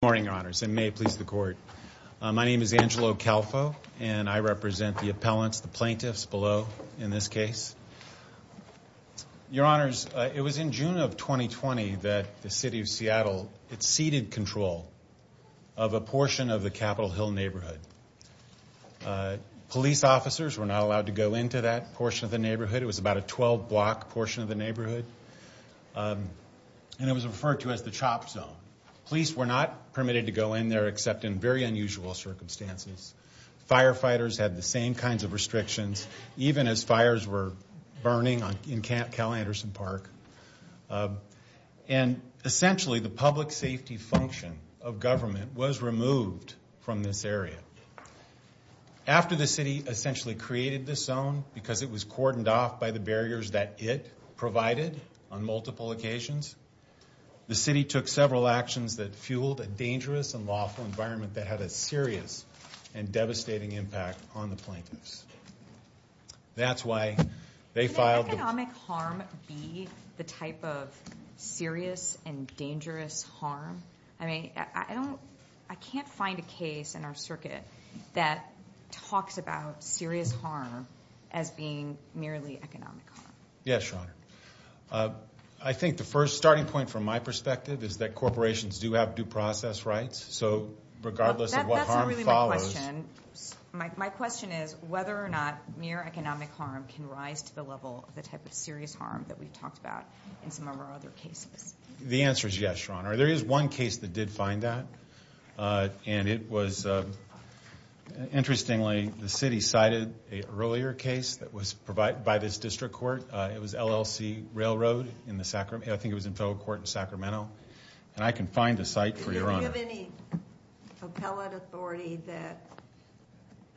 Good morning, Your Honors, and may it please the Court. My name is Angelo Calfo, and I represent the appellants, the plaintiffs below in this case. Your Honors, it was in June of 2020 that the City of Seattle ceded control of a portion of the Capitol Hill neighborhood. Police officers were not allowed to go into that portion of the neighborhood. It was about a 12-block portion of the neighborhood, and it was referred to as the CHOP Zone. Police were not permitted to go in there except in very unusual circumstances. Firefighters had the same kinds of restrictions, even as fires were burning in Cal Anderson Park. And essentially the public safety function of government was removed from this area. After the City essentially created this zone, because it was cordoned off by the barriers that it provided on multiple occasions, the City took several actions that fueled a dangerous and lawful environment that had a serious and devastating impact on the plaintiffs. That's why they filed the... Can economic harm be the type of serious and dangerous harm? I mean, I don't, I can't find a case in our circuit that talks about serious harm as being merely economic harm. Yes, Your Honor. I think the first starting point from my perspective is that corporations do have due process rights, so regardless of what harm follows... That's not really my question. My question is whether or not mere economic harm can rise to the level of the type of serious harm that we've talked about in some of our other cases. The answer is yes, Your Honor. There is one case that did find that, and it was, interestingly, the City cited an earlier case that was provided by this District Court. It was LLC Railroad in the Sacramento, I think it was in Federal Court in Sacramento, and I can find a site for Your Honor. Do you have any appellate authority that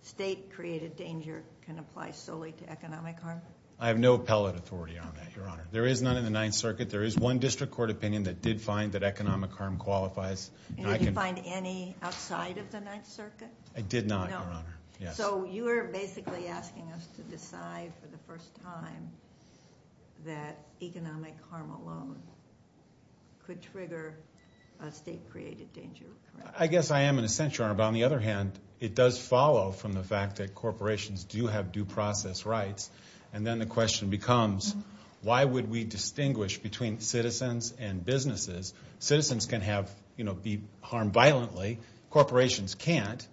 state-created danger can apply solely to economic harm? I have no appellate authority on that, Your Honor. There is none in the Ninth Circuit. There is one District Court opinion that did find that economic harm qualifies. And did you find any outside of the Ninth Circuit? I did not, Your Honor. No. So you are basically asking us to decide for the first time that economic harm alone could trigger a state-created danger, correct? I guess I am in a sense, Your Honor, but on the other hand, it does follow from the fact that corporations do have due process rights, and then the question becomes, why would we distinguish between citizens and businesses? Citizens can be harmed violently. Corporations can't.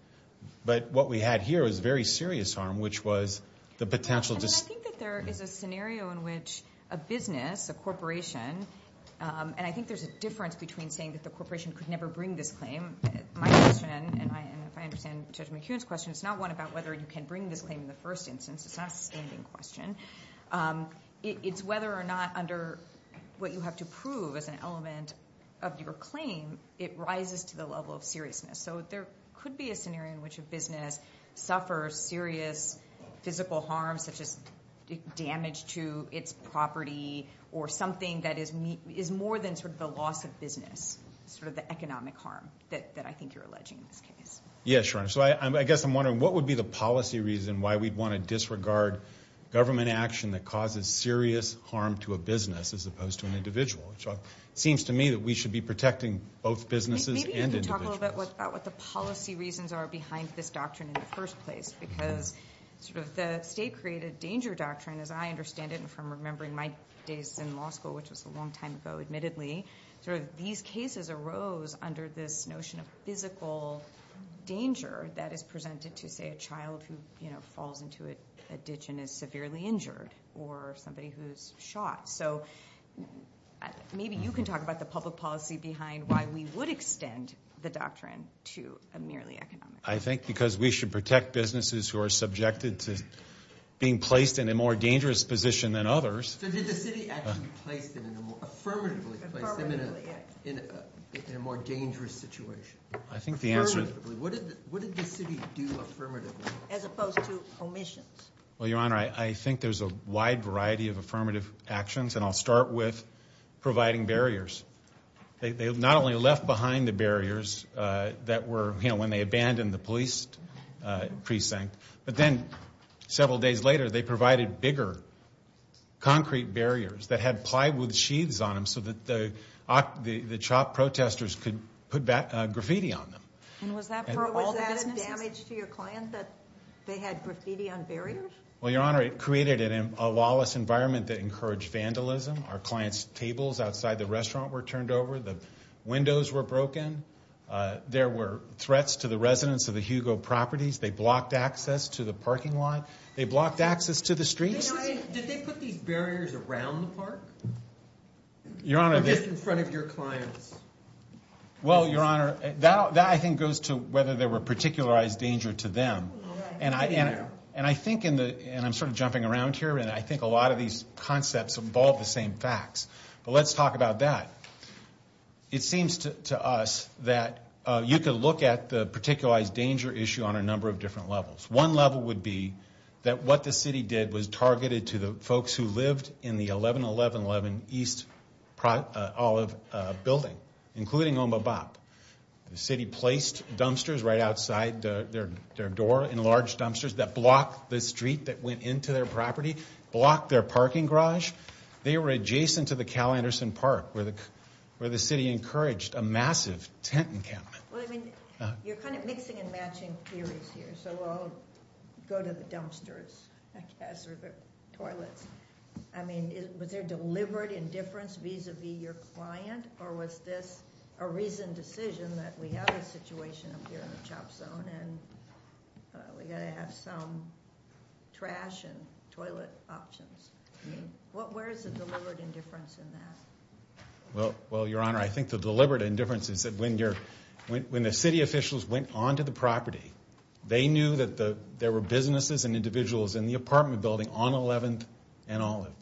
But what we had here was very serious harm, which was the potential to... And I think that there is a scenario in which a business, a corporation, and I think there is a difference between saying that the corporation could never bring this claim. My question, and if I understand Judge McHugh's question, it is not one about whether you can bring this claim in the first instance. It is not a standing question. It is whether or not under what you have to prove as an element of your claim, it rises to the level of seriousness. So there could be a scenario in which a business suffers serious physical harm, such as damage to its property, or something that is more than sort of the loss of business, sort of the economic harm that I think you are alleging in this case. Yes, Your Honor. So I guess I am wondering, what would be the policy reason why we would want to disregard government action that causes serious harm to a business as opposed to an individual? It seems to me that we should be protecting both businesses and individuals. Let me talk a little bit about what the policy reasons are behind this doctrine in the first place, because sort of the state-created danger doctrine, as I understand it, and from remembering my days in law school, which was a long time ago admittedly, sort of these cases arose under this notion of physical danger that is presented to, say, a child who, you know, falls into a ditch and is severely injured, or somebody who is shot. So maybe you can talk about the public policy behind why we would extend the doctrine to a merely economic case. I think because we should protect businesses who are subjected to being placed in a more dangerous position than others. So did the city actually place them in a more, affirmatively place them in a more dangerous situation? Affirmatively. What did the city do affirmatively? As opposed to omissions. Well, Your Honor, I think there is a wide variety of affirmative actions, and I'll start with providing barriers. They not only left behind the barriers that were, you know, when they abandoned the police precinct, but then several days later they provided bigger concrete barriers that had plywood sheaths on them so that the chopped protesters could put graffiti on them. And was that for all the businesses? Was that damage to your client that they had graffiti on barriers? Well, Your Honor, it created a lawless environment that encouraged vandalism. Our client's tables outside the restaurant were turned over. The windows were broken. There were threats to the residents of the Hugo properties. They blocked access to the parking lot. They blocked access to the streets. Did they put these barriers around the park? Or just in front of your clients? Well, Your Honor, that I think goes to whether there were particularized danger to them. And I think, and I'm sort of jumping around here, and I think a lot of these concepts involve the same facts. But let's talk about that. It seems to us that you could look at the particularized danger issue on a number of different levels. One level would be that what the city did was targeted to the folks who lived in the 1111 East Olive Building, including Omabop. The city placed dumpsters right outside their door, enlarged dumpsters that blocked the street that went into their property, blocked their parking garage. They were adjacent to the Cal Anderson Park, where the city encouraged a massive tent encampment. Well, I mean, you're kind of mixing and matching theories here. So I'll go to the dumpsters, I guess, or the toilets. I mean, was there deliberate indifference vis-a-vis your client? Or was this a reasoned decision that we have a situation up here in the CHOP Zone, and we've got to have some trash and toilet options? I mean, where is the deliberate indifference in that? Well, Your Honor, I think the deliberate indifference is that when the city officials went onto the property, they knew that there were businesses and individuals in the apartment building on 11th and Olive.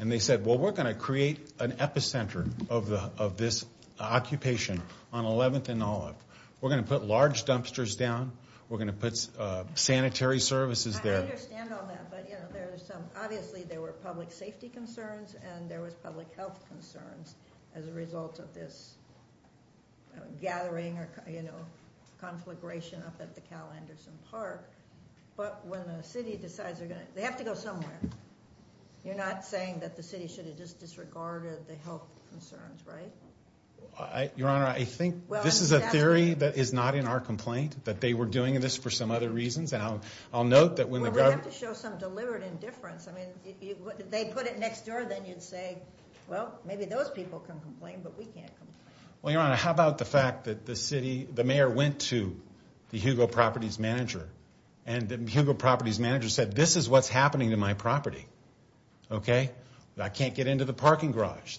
And they said, well, we're going to create an epicenter of this occupation on 11th and Olive. We're going to put large dumpsters down. We're going to put sanitary services there. I understand all that, but obviously there were public safety concerns, and there was public health concerns as a result of this gathering or conflagration up at the Cal Anderson Park. But when the city decides they have to go somewhere, you're not saying that the city should have just disregarded the health concerns, right? Your Honor, I think this is a theory that is not in our complaint, that they were doing this for some other reasons. And I'll note that when the government... Well, we have to show some deliberate indifference. I mean, if they put it next door, then you'd say, well, maybe those people can complain, but we can't complain. Well, Your Honor, how about the fact that the mayor went to the Hugo Properties Manager, and the Hugo Properties Manager said, this is what's happening to my property, okay? I can't get into the parking garage.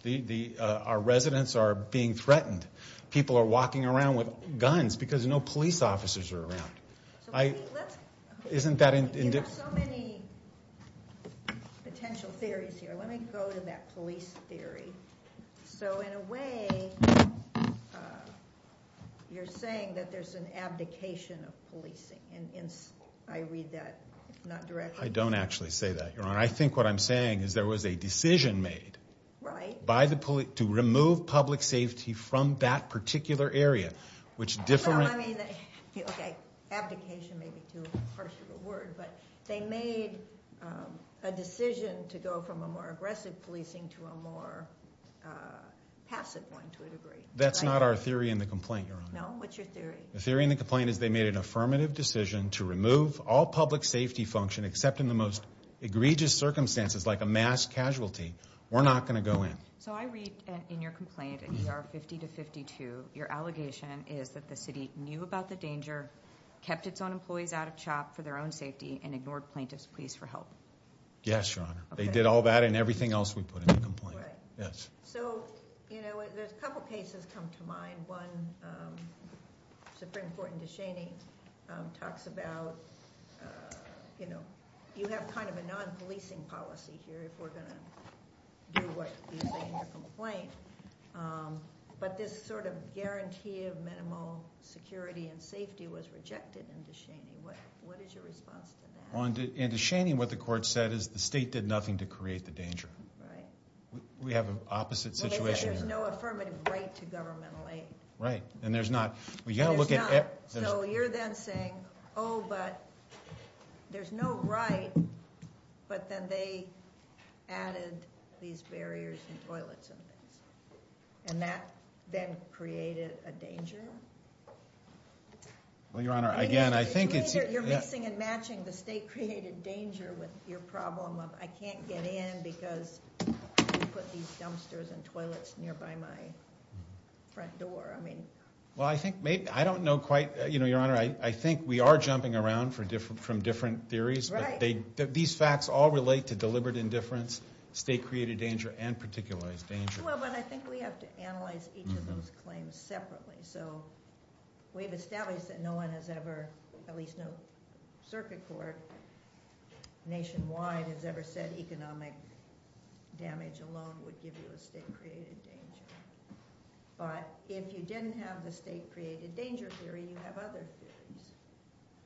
Our residents are being threatened. People are walking around with guns because no police officers are around. Isn't that indifferent? Well, there are so many potential theories here. Let me go to that police theory. So in a way, you're saying that there's an abdication of policing. I read that not directly. I don't actually say that, Your Honor. I think what I'm saying is there was a decision made to remove public safety from that particular area, which different... Okay, abdication may be too harsh of a word, but they made a decision to go from a more aggressive policing to a more passive one, to a degree. That's not our theory in the complaint, Your Honor. No? What's your theory? The theory in the complaint is they made an affirmative decision to remove all public safety function, except in the most egregious circumstances, like a mass casualty. We're not going to go in. So I read in your complaint, in ER 50 to 52, your allegation is that the city knew about the danger, kept its own employees out of chop for their own safety, and ignored plaintiffs' pleas for help. Yes, Your Honor. They did all that and everything else we put in the complaint. Right. Yes. So, you know, there's a couple cases come to mind. One, Supreme Court in Deshaney talks about, you know, you have kind of a non-policing policy here, if we're going to do what you say in your complaint. But this sort of guarantee of minimal security and safety was rejected in Deshaney. What is your response to that? In Deshaney, what the court said is the state did nothing to create the danger. Right. We have an opposite situation here. There's no affirmative right to governmental aid. Right. And there's not. There's not. So you're then saying, oh, but there's no right, but then they added these barriers and toilets and things. And that then created a danger? Well, Your Honor, again, I think it's... You're mixing and matching the state-created danger with your problem of I can't get in because I put these dumpsters and toilets nearby my front door. I mean... Well, I think maybe... I don't know quite... You know, Your Honor, I think we are jumping around from different theories. Right. These facts all relate to deliberate indifference, state-created danger, and particularized danger. Well, but I think we have to analyze each of those claims separately. So we've established that no one has ever, at least no circuit court nationwide, has ever said economic damage alone would give you a state-created danger. But if you didn't have the state-created danger theory, you have other theories.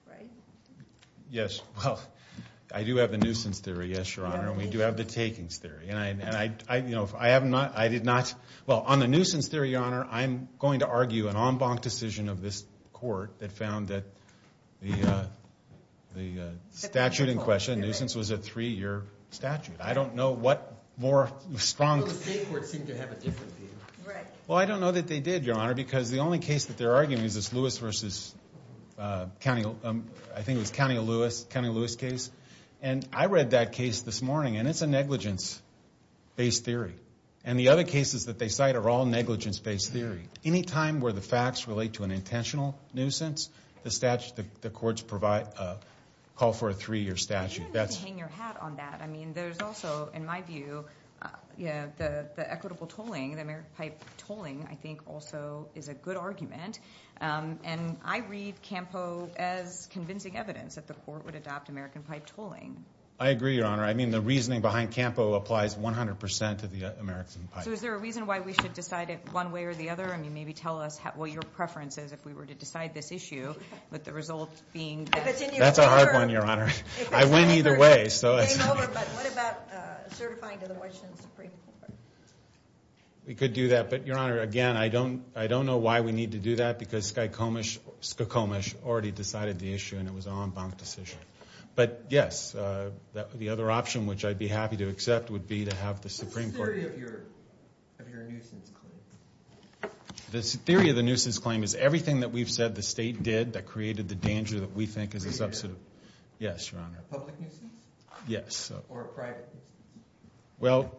Right? Yes. Well, I do have the nuisance theory, yes, Your Honor. And we do have the takings theory. And I, you know, I have not... I did not... Well, on the nuisance theory, Your Honor, I'm going to argue an en banc decision of this court that found that the statute in question, nuisance, was a three-year statute. I don't know what more strong... But the state courts seem to have a different view. Right. Well, I don't know that they did, Your Honor, because the only case that they're arguing is this Lewis v. County... I think it was County of Lewis, County of Lewis case. And I read that case this morning, and it's a negligence-based theory. And the other cases that they cite are all negligence-based theory. Anytime where the facts relate to an intentional nuisance, the statute... the courts provide... call for a three-year statute. That's... But also, in my view, the equitable tolling, the American pipe tolling, I think, also is a good argument. And I read CAMPO as convincing evidence that the court would adopt American pipe tolling. I agree, Your Honor. I mean, the reasoning behind CAMPO applies 100% to the American pipe. So is there a reason why we should decide it one way or the other? I mean, maybe tell us what your preference is if we were to decide this issue, with the result being that... That's a hard one, Your Honor. I win either way. But what about certifying to the Washington Supreme Court? We could do that. But, Your Honor, again, I don't know why we need to do that because Skykomish already decided the issue, and it was an en banc decision. But, yes, the other option, which I'd be happy to accept, would be to have the Supreme Court... What's the theory of your nuisance claim? The theory of the nuisance claim is everything that we've said the state did that created the danger that we think is a substantive... Yes. Or a private nuisance. Well,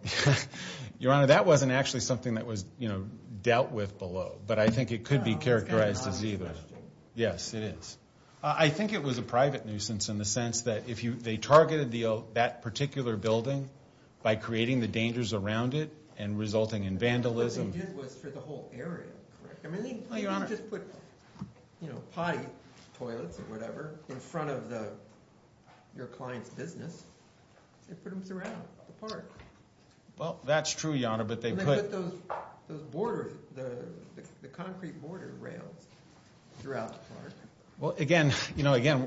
Your Honor, that wasn't actually something that was dealt with below, but I think it could be characterized as either. Yes, it is. I think it was a private nuisance in the sense that they targeted that particular building by creating the dangers around it and resulting in vandalism. What they did was for the whole area, correct? I mean, they didn't just put potty toilets or whatever in front of your client's business. They put them throughout the park. Well, that's true, Your Honor, but they put... And they put those concrete border rails throughout the park. Well, again,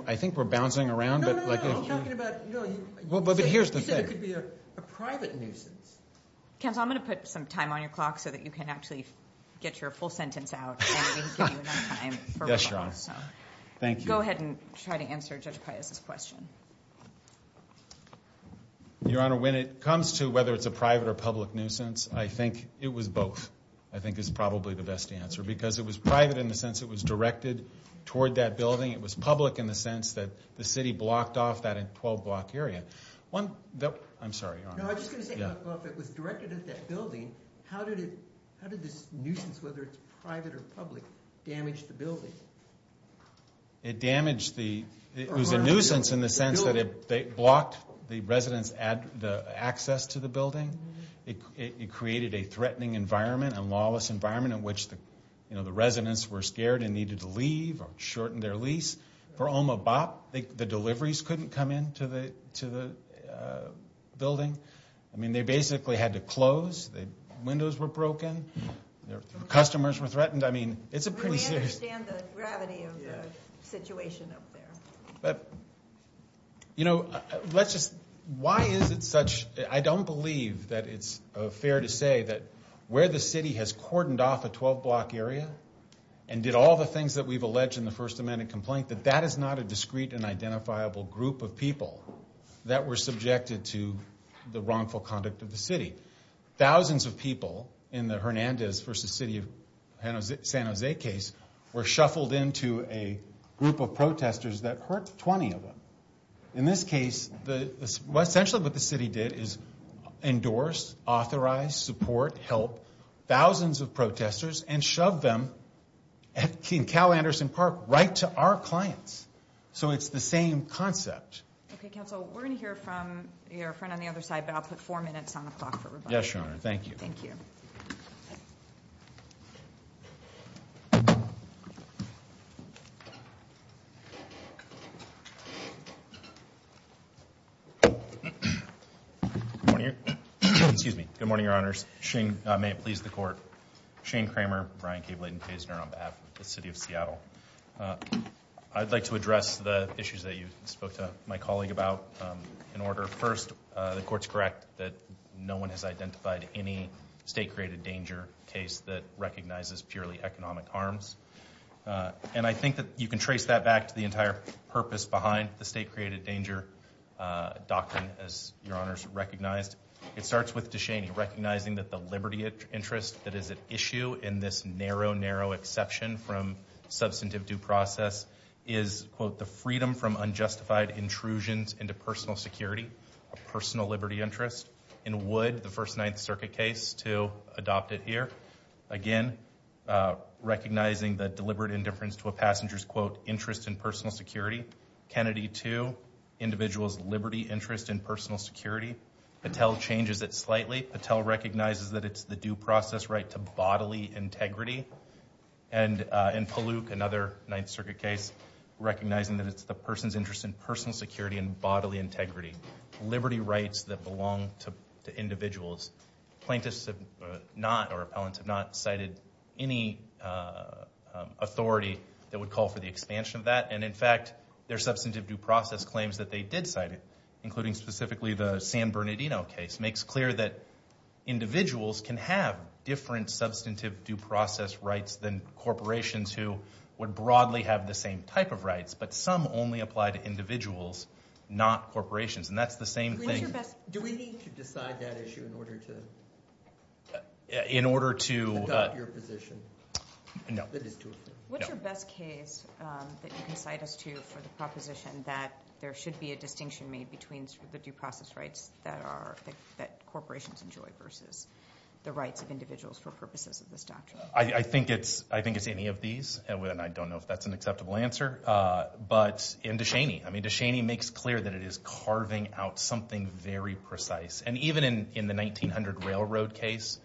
I think we're bouncing around, but... No, no, no, I'm talking about... But here's the thing. You said it could be a private nuisance. Counsel, I'm going to put some time on your clock so that you can actually get your full sentence out, and we can give you enough time for rebuttal. Yes, Your Honor. Thank you. Go ahead and try to answer Judge Paius's question. Your Honor, when it comes to whether it's a private or public nuisance, I think it was both I think is probably the best answer because it was private in the sense it was directed toward that building. It was public in the sense that the city blocked off that 12-block area. One... I'm sorry, Your Honor. No, I was just going to say, well, if it was directed at that building, how did this nuisance, whether it's private or public, damage the building? It damaged the... It was a nuisance in the sense that it blocked the residents' access to the building. It created a threatening environment, a lawless environment, in which the residents were scared and needed to leave or shorten their lease. For Oma Bop, the deliveries couldn't come into the building. I mean, they basically had to close. Windows were broken. Customers were threatened. I mean, it's a pretty serious... We understand the gravity of the situation up there. But, you know, let's just... Why is it such... I don't believe that it's fair to say that where the city has cordoned off a 12-block area and did all the things that we've alleged in the First Amendment complaint, that that is not a discrete and identifiable group of people that were subjected to the wrongful conduct of the city. Thousands of people in the Hernandez v. City of San Jose case were shuffled into a group of protesters that hurt 20 of them. In this case, essentially what the city did is endorse, authorize, support, help thousands of protesters and shove them at Cal Anderson Park right to our clients. So it's the same concept. Okay, counsel, we're going to hear from your friend on the other side, but I'll put four minutes on the clock for rebuttal. Yes, Your Honor. Thank you. Thank you. Good morning. Excuse me. Good morning, Your Honors. Shane, may it please the Court. Shane Kramer, Brian K. Blayden Kaysner on behalf of the City of Seattle. I'd like to address the issues that you spoke to my colleague about in order. First, the Court's correct that no one has identified any state-created danger case that recognizes purely economic harms. And I think that you can trace that back to the entire purpose behind the state-created danger doctrine, as Your Honors recognized. It starts with DeShaney recognizing that the liberty interest that is at issue in this narrow, narrow exception from substantive due process is, quote, the freedom from unjustified intrusions into personal security, a personal liberty interest. In Wood, the First Ninth Circuit case, to adopt it here, again, recognizing the deliberate indifference to a passenger's, quote, interest in personal security. Kennedy, too, individual's liberty interest in personal security. Patel changes it slightly. Patel recognizes that it's the due process right to bodily integrity. And in Palook, another Ninth Circuit case, recognizing that it's the person's interest in personal security and bodily integrity, liberty rights that belong to individuals. Plaintiffs have not, or appellants have not, cited any authority that would call for the expansion of that. And, in fact, their substantive due process claims that they did cite it, including specifically the San Bernardino case, makes clear that individuals can have different substantive due process rights than corporations who would broadly have the same type of rights. But some only apply to individuals, not corporations. And that's the same thing. Do we need to decide that issue in order to adopt your position? No. What's your best case that you can cite us to for the proposition that there should be a distinction made between the due process rights that corporations enjoy versus the rights of individuals for purposes of this doctrine? I think it's any of these, and I don't know if that's an acceptable answer. But in DeShaney, I mean, DeShaney makes clear that it is carving out something very precise. And even in the 1900 railroad case,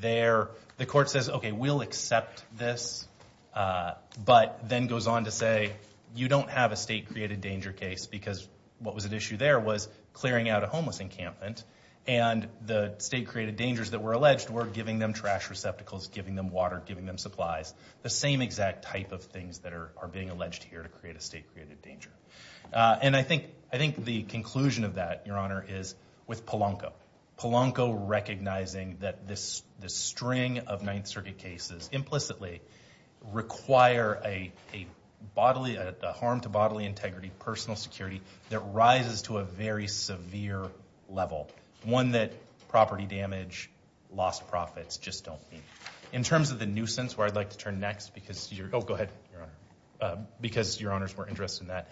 the court says, okay, we'll accept this, but then goes on to say you don't have a state-created danger case because what was at issue there was clearing out a homeless encampment, and the state-created dangers that were alleged were giving them trash receptacles, giving them water, giving them supplies, the same exact type of things that are being alleged here to create a state-created danger. And I think the conclusion of that, Your Honor, is with Polanco. Polanco recognizing that this string of Ninth Circuit cases implicitly require a bodily, a harm to bodily integrity, personal security that rises to a very severe level, one that property damage, lost profits just don't meet. In terms of the nuisance, where I'd like to turn next because you're—oh, go ahead, Your Honor— because Your Honors were interested in that.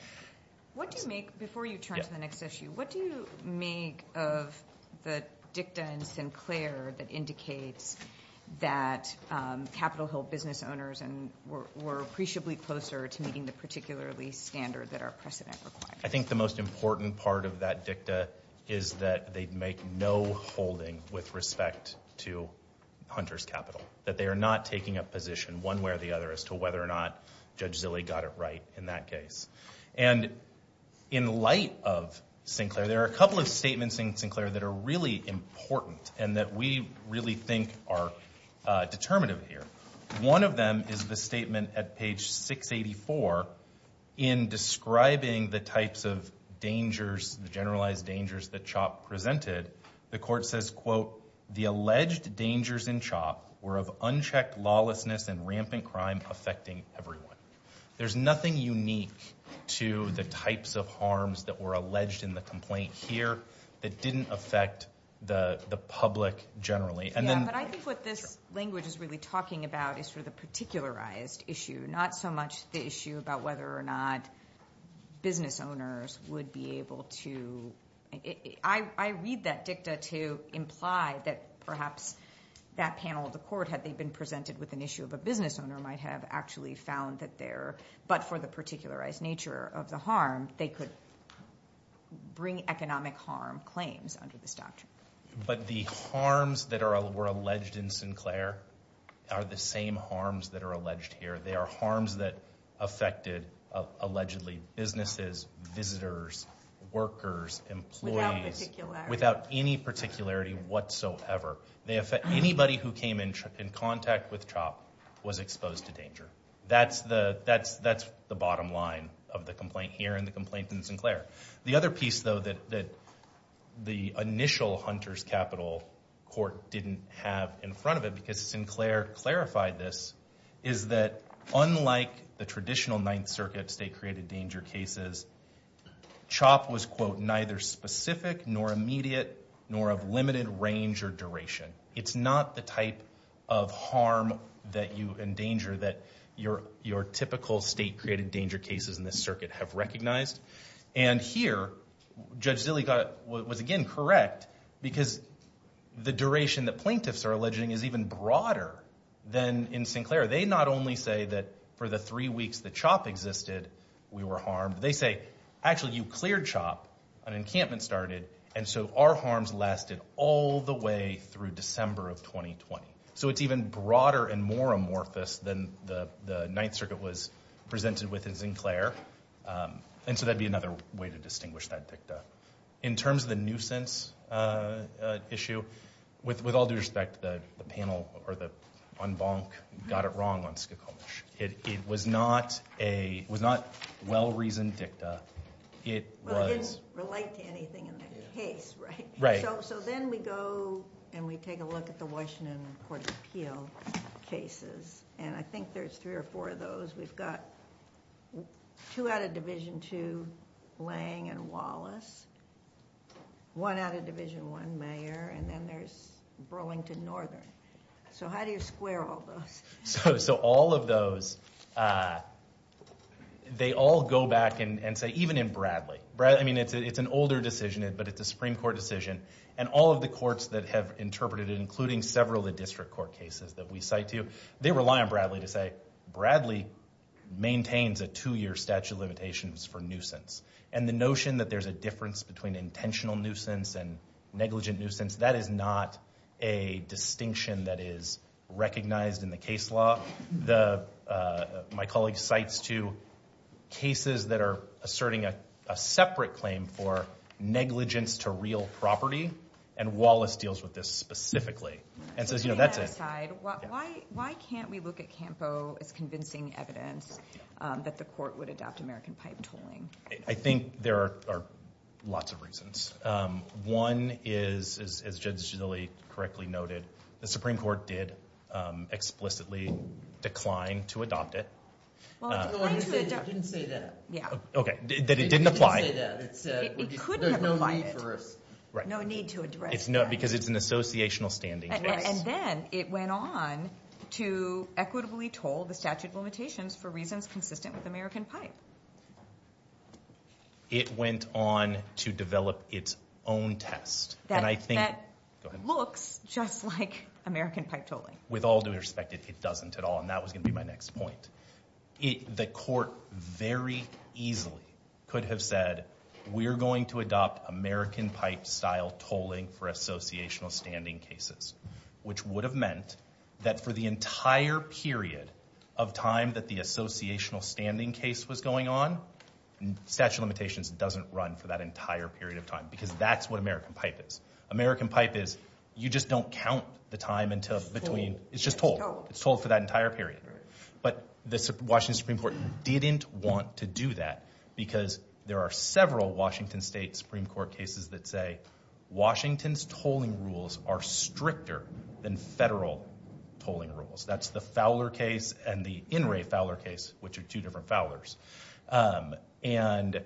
What do you make—before you turn to the next issue, what do you make of the dicta in Sinclair that indicates that Capitol Hill business owners were appreciably closer to meeting the particularly standard that our precedent requires? I think the most important part of that dicta is that they make no holding with respect to Hunter's Capital, that they are not taking a position one way or the other as to whether or not Judge Zille got it right in that case. And in light of Sinclair, there are a couple of statements in Sinclair that are really important and that we really think are determinative here. One of them is the statement at page 684 in describing the types of dangers, the generalized dangers that CHOP presented. The court says, quote, the alleged dangers in CHOP were of unchecked lawlessness and rampant crime affecting everyone. There's nothing unique to the types of harms that were alleged in the complaint here that didn't affect the public generally. Yeah, but I think what this language is really talking about is sort of the particularized issue, not so much the issue about whether or not business owners would be able to— I read that dicta to imply that perhaps that panel of the court, had they been presented with an issue of a business owner, might have actually found that there— but for the particularized nature of the harm, they could bring economic harm claims under this doctrine. But the harms that were alleged in Sinclair are the same harms that are alleged here. They are harms that affected, allegedly, businesses, visitors, workers, employees— Without particularity. Without any particularity whatsoever. Anybody who came in contact with CHOP was exposed to danger. That's the bottom line of the complaint here and the complaint in Sinclair. The other piece, though, that the initial Hunter's Capital court didn't have in front of it, because Sinclair clarified this, is that unlike the traditional Ninth Circuit state-created danger cases, CHOP was, quote, neither specific nor immediate nor of limited range or duration. It's not the type of harm that you endanger that your typical state-created danger cases in this circuit have recognized. And here, Judge Zille was, again, correct, because the duration that plaintiffs are alleging is even broader than in Sinclair. They not only say that for the three weeks that CHOP existed, we were harmed. They say, actually, you cleared CHOP, an encampment started, and so our harms lasted all the way through December of 2020. So it's even broader and more amorphous than the Ninth Circuit was presented with in Sinclair. And so that would be another way to distinguish that dicta. In terms of the nuisance issue, with all due respect, the panel on Bonk got it wrong on Skokomish. It was not a well-reasoned dicta. It was- Well, it didn't relate to anything in the case, right? Right. So then we go and we take a look at the Washington Court of Appeal cases, and I think there's three or four of those. We've got two out of Division II, Lange and Wallace, one out of Division I, Mayer, and then there's Burlington Northern. So how do you square all those? So all of those, they all go back and say, even in Bradley. I mean, it's an older decision, but it's a Supreme Court decision, and all of the courts that have interpreted it, including several of the district court cases that we cite to, they rely on Bradley to say, Bradley maintains a two-year statute of limitations for nuisance. And the notion that there's a difference between intentional nuisance and negligent nuisance, that is not a distinction that is recognized in the case law. My colleague cites two cases that are asserting a separate claim for negligence to real property, and Wallace deals with this specifically and says, you know, that's it. Why can't we look at CAMPO as convincing evidence that the court would adopt American pipe tolling? I think there are lots of reasons. One is, as Judge Ginelli correctly noted, the Supreme Court did explicitly decline to adopt it. Well, it didn't say that. Okay, that it didn't apply. It couldn't have applied. There's no need for us. No need to address that. Because it's an associational standing case. And then it went on to equitably toll the statute of limitations for reasons consistent with American pipe. It went on to develop its own test. That looks just like American pipe tolling. With all due respect, it doesn't at all. And that was going to be my next point. The court very easily could have said, we're going to adopt American pipe style tolling for associational standing cases, which would have meant that for the entire period of time that the associational standing case was going on, statute of limitations doesn't run for that entire period of time. Because that's what American pipe is. American pipe is, you just don't count the time until between. It's toll. It's just toll. It's toll for that entire period. But the Washington Supreme Court didn't want to do that. Because there are several Washington State Supreme Court cases that say, Washington's tolling rules are stricter than federal tolling rules. That's the Fowler case and the In re Fowler case, which are two different Fowlers. And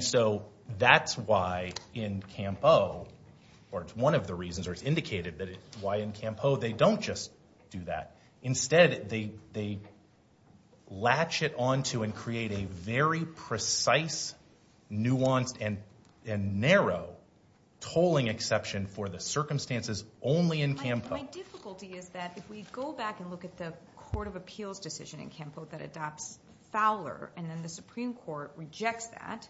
so that's why in Campo, or it's one of the reasons, or it's indicated why in Campo they don't just do that. Instead, they latch it onto and create a very precise, nuanced, and narrow tolling exception for the circumstances only in Campo. My difficulty is that if we go back and look at the court of appeals decision in Campo that adopts Fowler and then the Supreme Court rejects that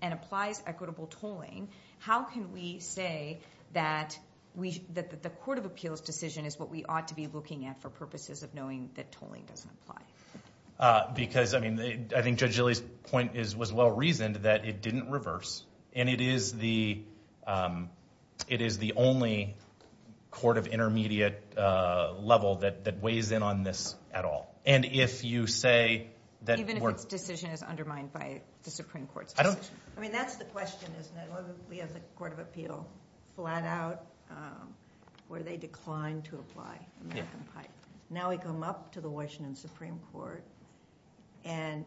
and applies equitable tolling, how can we say that the court of appeals decision is what we ought to be looking at for purposes of knowing that tolling doesn't apply? Because, I mean, I think Judge Gilley's point was well-reasoned that it didn't reverse. And it is the only court of intermediate level that weighs in on this at all. And if you say that we're— Even if its decision is undermined by the Supreme Court's decision? I mean, that's the question, isn't it? We have the court of appeal flat out where they declined to apply American pipe. Now we come up to the Washington Supreme Court, and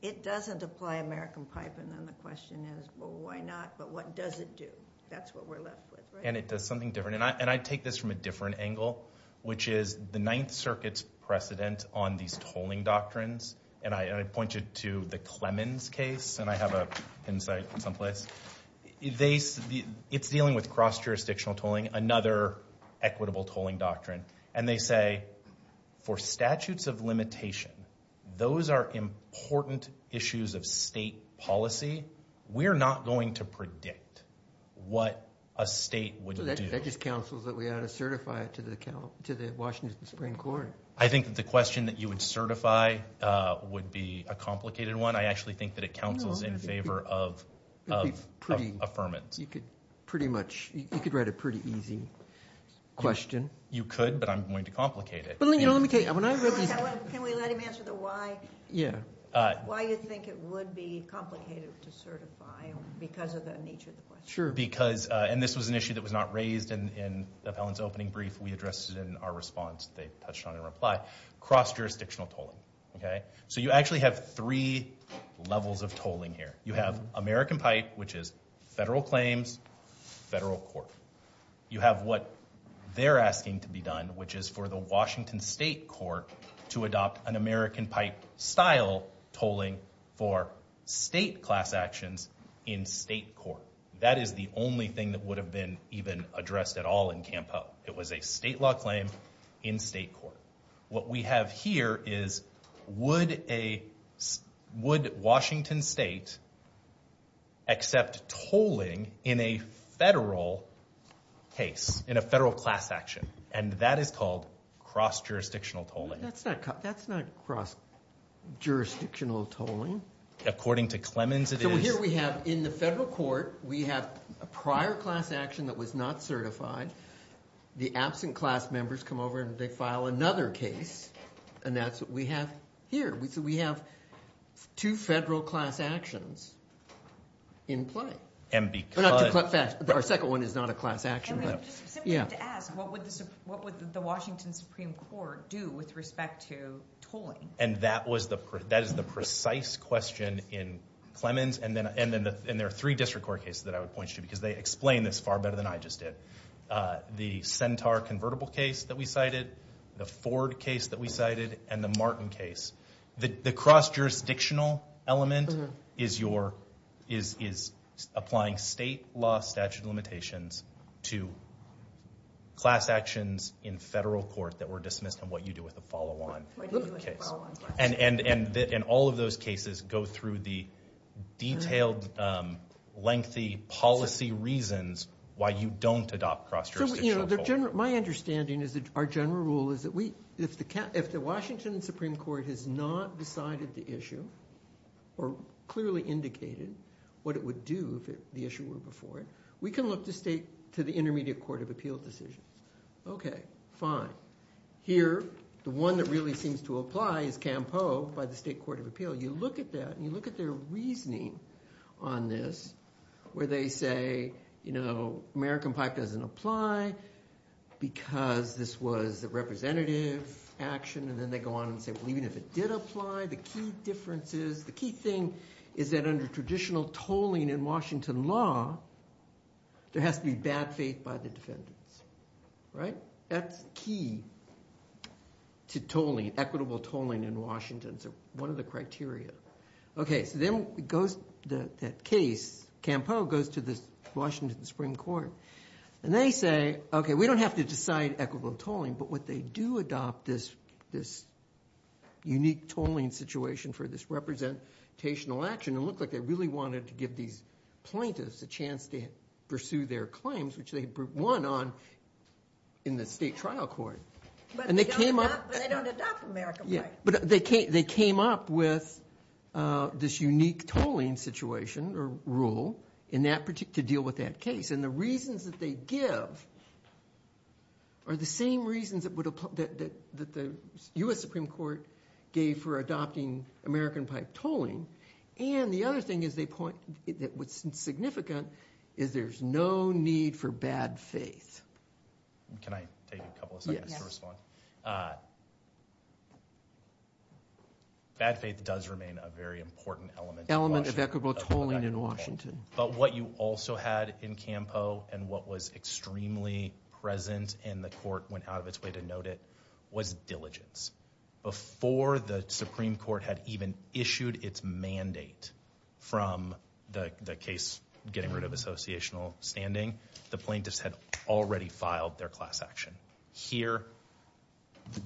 it doesn't apply American pipe. And then the question is, well, why not? But what does it do? That's what we're left with, right? And it does something different. And I take this from a different angle, which is the Ninth Circuit's precedent on these tolling doctrines, and I point you to the Clemens case, and I have a pin site someplace. It's dealing with cross-jurisdictional tolling, another equitable tolling doctrine. And they say, for statutes of limitation, those are important issues of state policy. We're not going to predict what a state would do. So that just counsels that we ought to certify it to the Washington Supreme Court. I think that the question that you would certify would be a complicated one. I actually think that it counsels in favor of affirmance. You could write a pretty easy question. You could, but I'm going to complicate it. Can we let him answer the why? Yeah. Why you think it would be complicated to certify because of the nature of the question. And this was an issue that was not raised in the appellant's opening brief. We addressed it in our response. They touched on it in reply. Cross-jurisdictional tolling. So you actually have three levels of tolling here. You have American pipe, which is federal claims, federal court. You have what they're asking to be done, which is for the Washington state court to adopt an American pipe style tolling for state class actions in state court. That is the only thing that would have been even addressed at all in CAMPO. It was a state law claim in state court. What we have here is would Washington state accept tolling in a federal case, in a federal class action, and that is called cross-jurisdictional tolling. That's not cross-jurisdictional tolling. According to Clemens, it is. Well, here we have in the federal court we have a prior class action that was not certified. The absent class members come over and they file another case, and that's what we have here. So we have two federal class actions in play. Our second one is not a class action. Just simply to ask, what would the Washington Supreme Court do with respect to tolling? That is the precise question in Clemens, and there are three district court cases that I would point you to because they explain this far better than I just did. The Centaur convertible case that we cited, the Ford case that we cited, and the Martin case. The cross-jurisdictional element is applying state law statute limitations to class actions in federal court that were dismissed and what you do with the follow-on case. And all of those cases go through the detailed, lengthy policy reasons why you don't adopt cross-jurisdictional tolling. My understanding is that our general rule is that if the Washington Supreme Court has not decided the issue or clearly indicated what it would do if the issue were before it, we can look to the Intermediate Court of Appeal decisions. Okay, fine. Here, the one that really seems to apply is Campo by the State Court of Appeal. You look at that and you look at their reasoning on this where they say, you know, American pipe doesn't apply because this was a representative action, and then they go on and say, well, even if it did apply, the key difference is, the key thing is that under traditional tolling in Washington law, there has to be bad faith by the defendants. Right? That's key to tolling, equitable tolling in Washington. It's one of the criteria. Okay, so then it goes, that case, Campo goes to the Washington Supreme Court, and they say, okay, we don't have to decide equitable tolling, but what they do adopt is this unique tolling situation for this representational action, and it looked like they really wanted to give these plaintiffs a chance to pursue their claims, which they won on in the state trial court. But they don't adopt American pipe. But they came up with this unique tolling situation or rule to deal with that case, and the reasons that they give are the same reasons that the U.S. Supreme Court gave for adopting American pipe tolling, and the other thing is they point that what's significant is there's no need for bad faith. Can I take a couple of seconds to respond? Bad faith does remain a very important element of equitable tolling in Washington. But what you also had in Campo and what was extremely present and the court went out of its way to note it was diligence. Before the Supreme Court had even issued its mandate from the case getting rid of associational standing, the plaintiffs had already filed their class action. Here,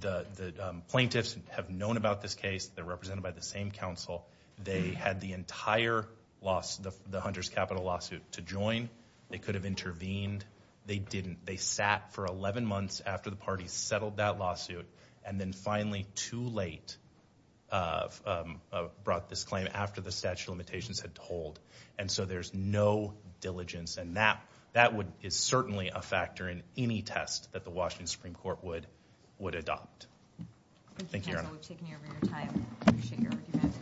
the plaintiffs have known about this case. They're represented by the same counsel. They had the entire loss, the Hunter's capital lawsuit to join. They could have intervened. They didn't. They sat for 11 months after the parties settled that lawsuit and then finally too late brought this claim after the statute of limitations had to hold. And so there's no diligence, and that is certainly a factor in any test that the Washington Supreme Court would adopt. Thank you, Aaron. Thank you for taking over your time. I appreciate your argument.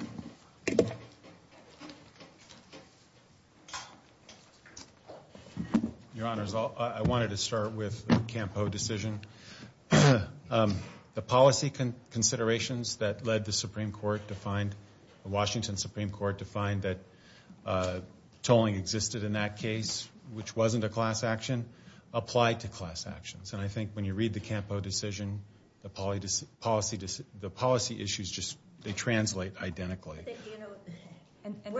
Your Honors, I wanted to start with the Campo decision. The policy considerations that led the Supreme Court to find, the Washington Supreme Court to find that tolling existed in that case, which wasn't a class action, applied to class actions. And I think when you read the Campo decision, the policy issues just translate identically. You know,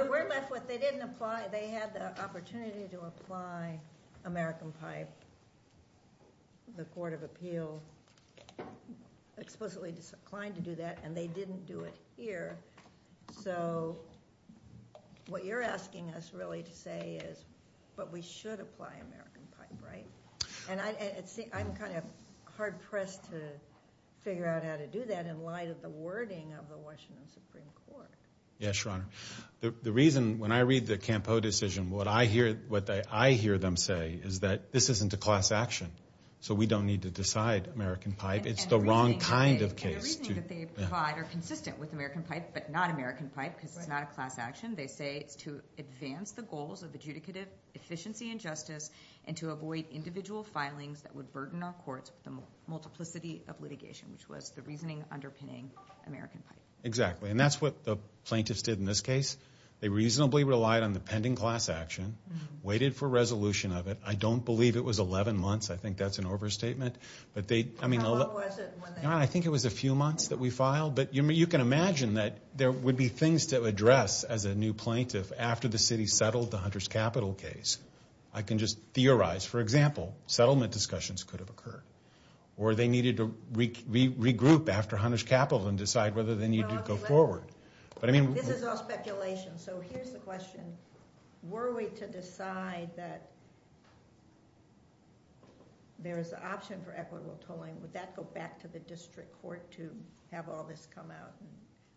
we're left with they didn't apply. They had the opportunity to apply American Pipe. The Court of Appeal explicitly declined to do that, and they didn't do it here. So what you're asking us really to say is, but we should apply American Pipe, right? And I'm kind of hard-pressed to figure out how to do that in light of the wording of the Washington Supreme Court. Yes, Your Honor. The reason when I read the Campo decision, what I hear them say is that this isn't a class action, so we don't need to decide American Pipe. It's the wrong kind of case. And the reasoning that they provide are consistent with American Pipe but not American Pipe because it's not a class action. They say it's to advance the goals of adjudicative efficiency and justice and to avoid individual filings that would burden our courts with the multiplicity of litigation, which was the reasoning underpinning American Pipe. Exactly, and that's what the plaintiffs did in this case. They reasonably relied on the pending class action, waited for resolution of it. I don't believe it was 11 months. I think that's an overstatement. How long was it? I think it was a few months that we filed. But you can imagine that there would be things to address as a new plaintiff after the city settled the Hunter's Capital case. I can just theorize. For example, settlement discussions could have occurred, or they needed to regroup after Hunter's Capital and decide whether they needed to go forward. This is all speculation, so here's the question. Were we to decide that there is an option for equitable tolling, would that go back to the district court to have all this come out and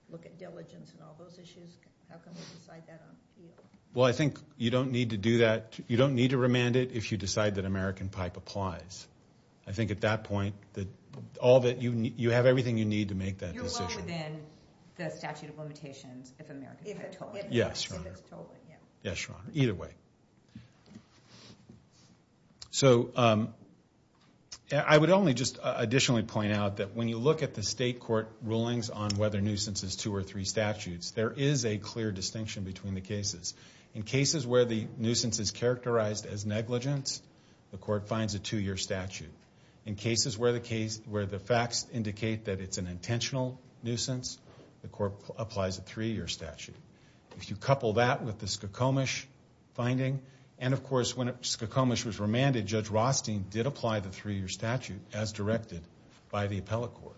look at diligence and all those issues? How can we decide that on appeal? Well, I think you don't need to do that. You don't need to remand it if you decide that American Pipe applies. I think at that point you have everything you need to make that decision. You're well within the statute of limitations if it's tolling. Yes, Your Honor. If it's tolling, yeah. Yes, Your Honor. Either way. So I would only just additionally point out that when you look at the state court rulings on whether nuisance is two or three statutes, there is a clear distinction between the cases. In cases where the nuisance is characterized as negligence, the court finds a two-year statute. In cases where the facts indicate that it's an intentional nuisance, the court applies a three-year statute. If you couple that with the Skokomish finding, and of course when Skokomish was remanded, Judge Rothstein did apply the three-year statute as directed by the appellate court.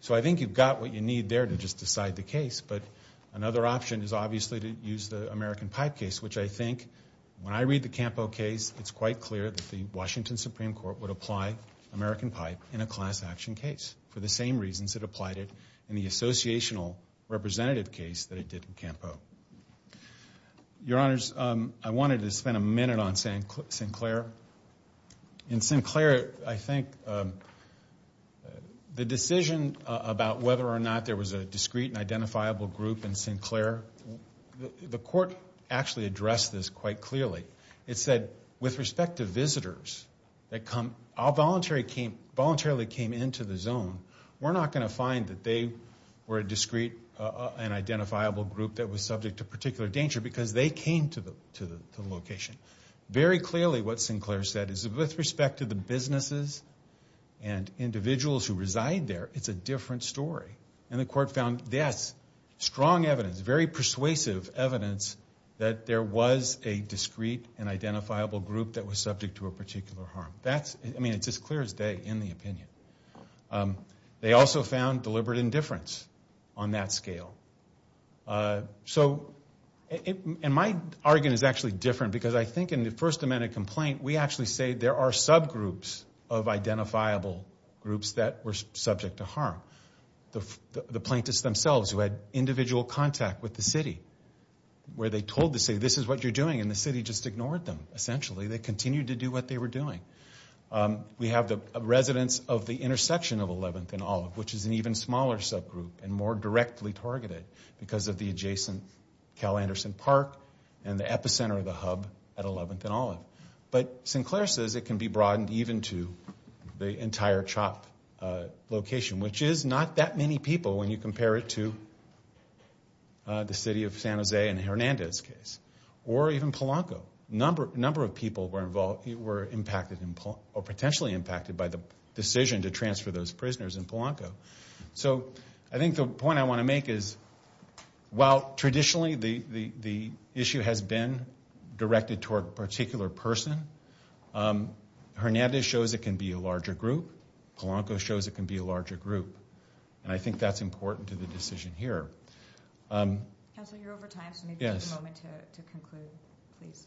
So I think you've got what you need there to just decide the case, but another option is obviously to use the American Pipe case, which I think when I read the Campo case, it's quite clear that the Washington Supreme Court would apply American Pipe in a class action case for the same reasons it applied it in the associational representative case that it did in Campo. Your Honors, I wanted to spend a minute on Sinclair. In Sinclair, I think the decision about whether or not there was a discrete and identifiable group in Sinclair, the court actually addressed this quite clearly. It said, with respect to visitors that voluntarily came into the zone, we're not going to find that they were a discrete and identifiable group that was subject to particular danger because they came to the location. Very clearly what Sinclair said is with respect to the businesses and individuals who reside there, it's a different story. And the court found this strong evidence, very persuasive evidence, that there was a discrete and identifiable group that was subject to a particular harm. I mean, it's as clear as day in the opinion. They also found deliberate indifference on that scale. And my argument is actually different because I think in the first amendment complaint, we actually say there are subgroups of identifiable groups that were subject to harm. The plaintiffs themselves who had individual contact with the city, where they told the city, this is what you're doing, and the city just ignored them, essentially. They continued to do what they were doing. We have the residents of the intersection of 11th and Olive, which is an even smaller subgroup and more directly targeted because of the adjacent Cal Anderson Park and the epicenter of the hub at 11th and Olive. But Sinclair says it can be broadened even to the entire CHOP location, which is not that many people when you compare it to the city of San Jose and Hernandez case, or even Polanco. A number of people were potentially impacted by the decision to transfer those prisoners in Polanco. So I think the point I want to make is, while traditionally the issue has been directed toward a particular person, Hernandez shows it can be a larger group. Polanco shows it can be a larger group. And I think that's important to the decision here. Counsel, you're over time, so maybe take a moment to conclude, please.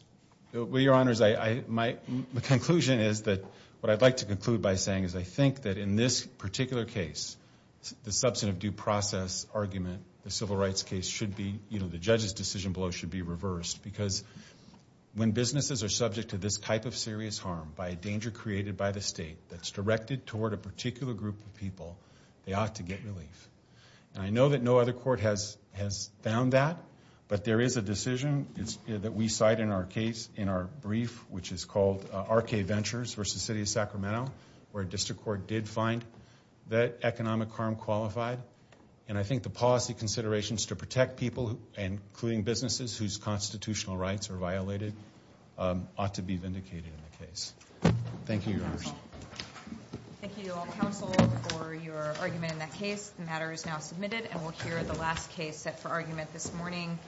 Well, Your Honors, my conclusion is that what I'd like to conclude by saying is I think that in this particular case, the substantive due process argument, the civil rights case should be, you know, the judge's decision below should be reversed because when businesses are subject to this type of serious harm by a danger created by the state that's directed toward a particular group of people, they ought to get relief. And I know that no other court has found that, but there is a decision that we cite in our brief, which is called RK Ventures v. City of Sacramento, where a district court did find that economic harm qualified. And I think the policy considerations to protect people, including businesses whose constitutional rights are violated, ought to be vindicated in the case. Thank you, Your Honors. Thank you, counsel, for your argument in that case. The matter is now submitted, and we'll hear the last case set for argument this morning.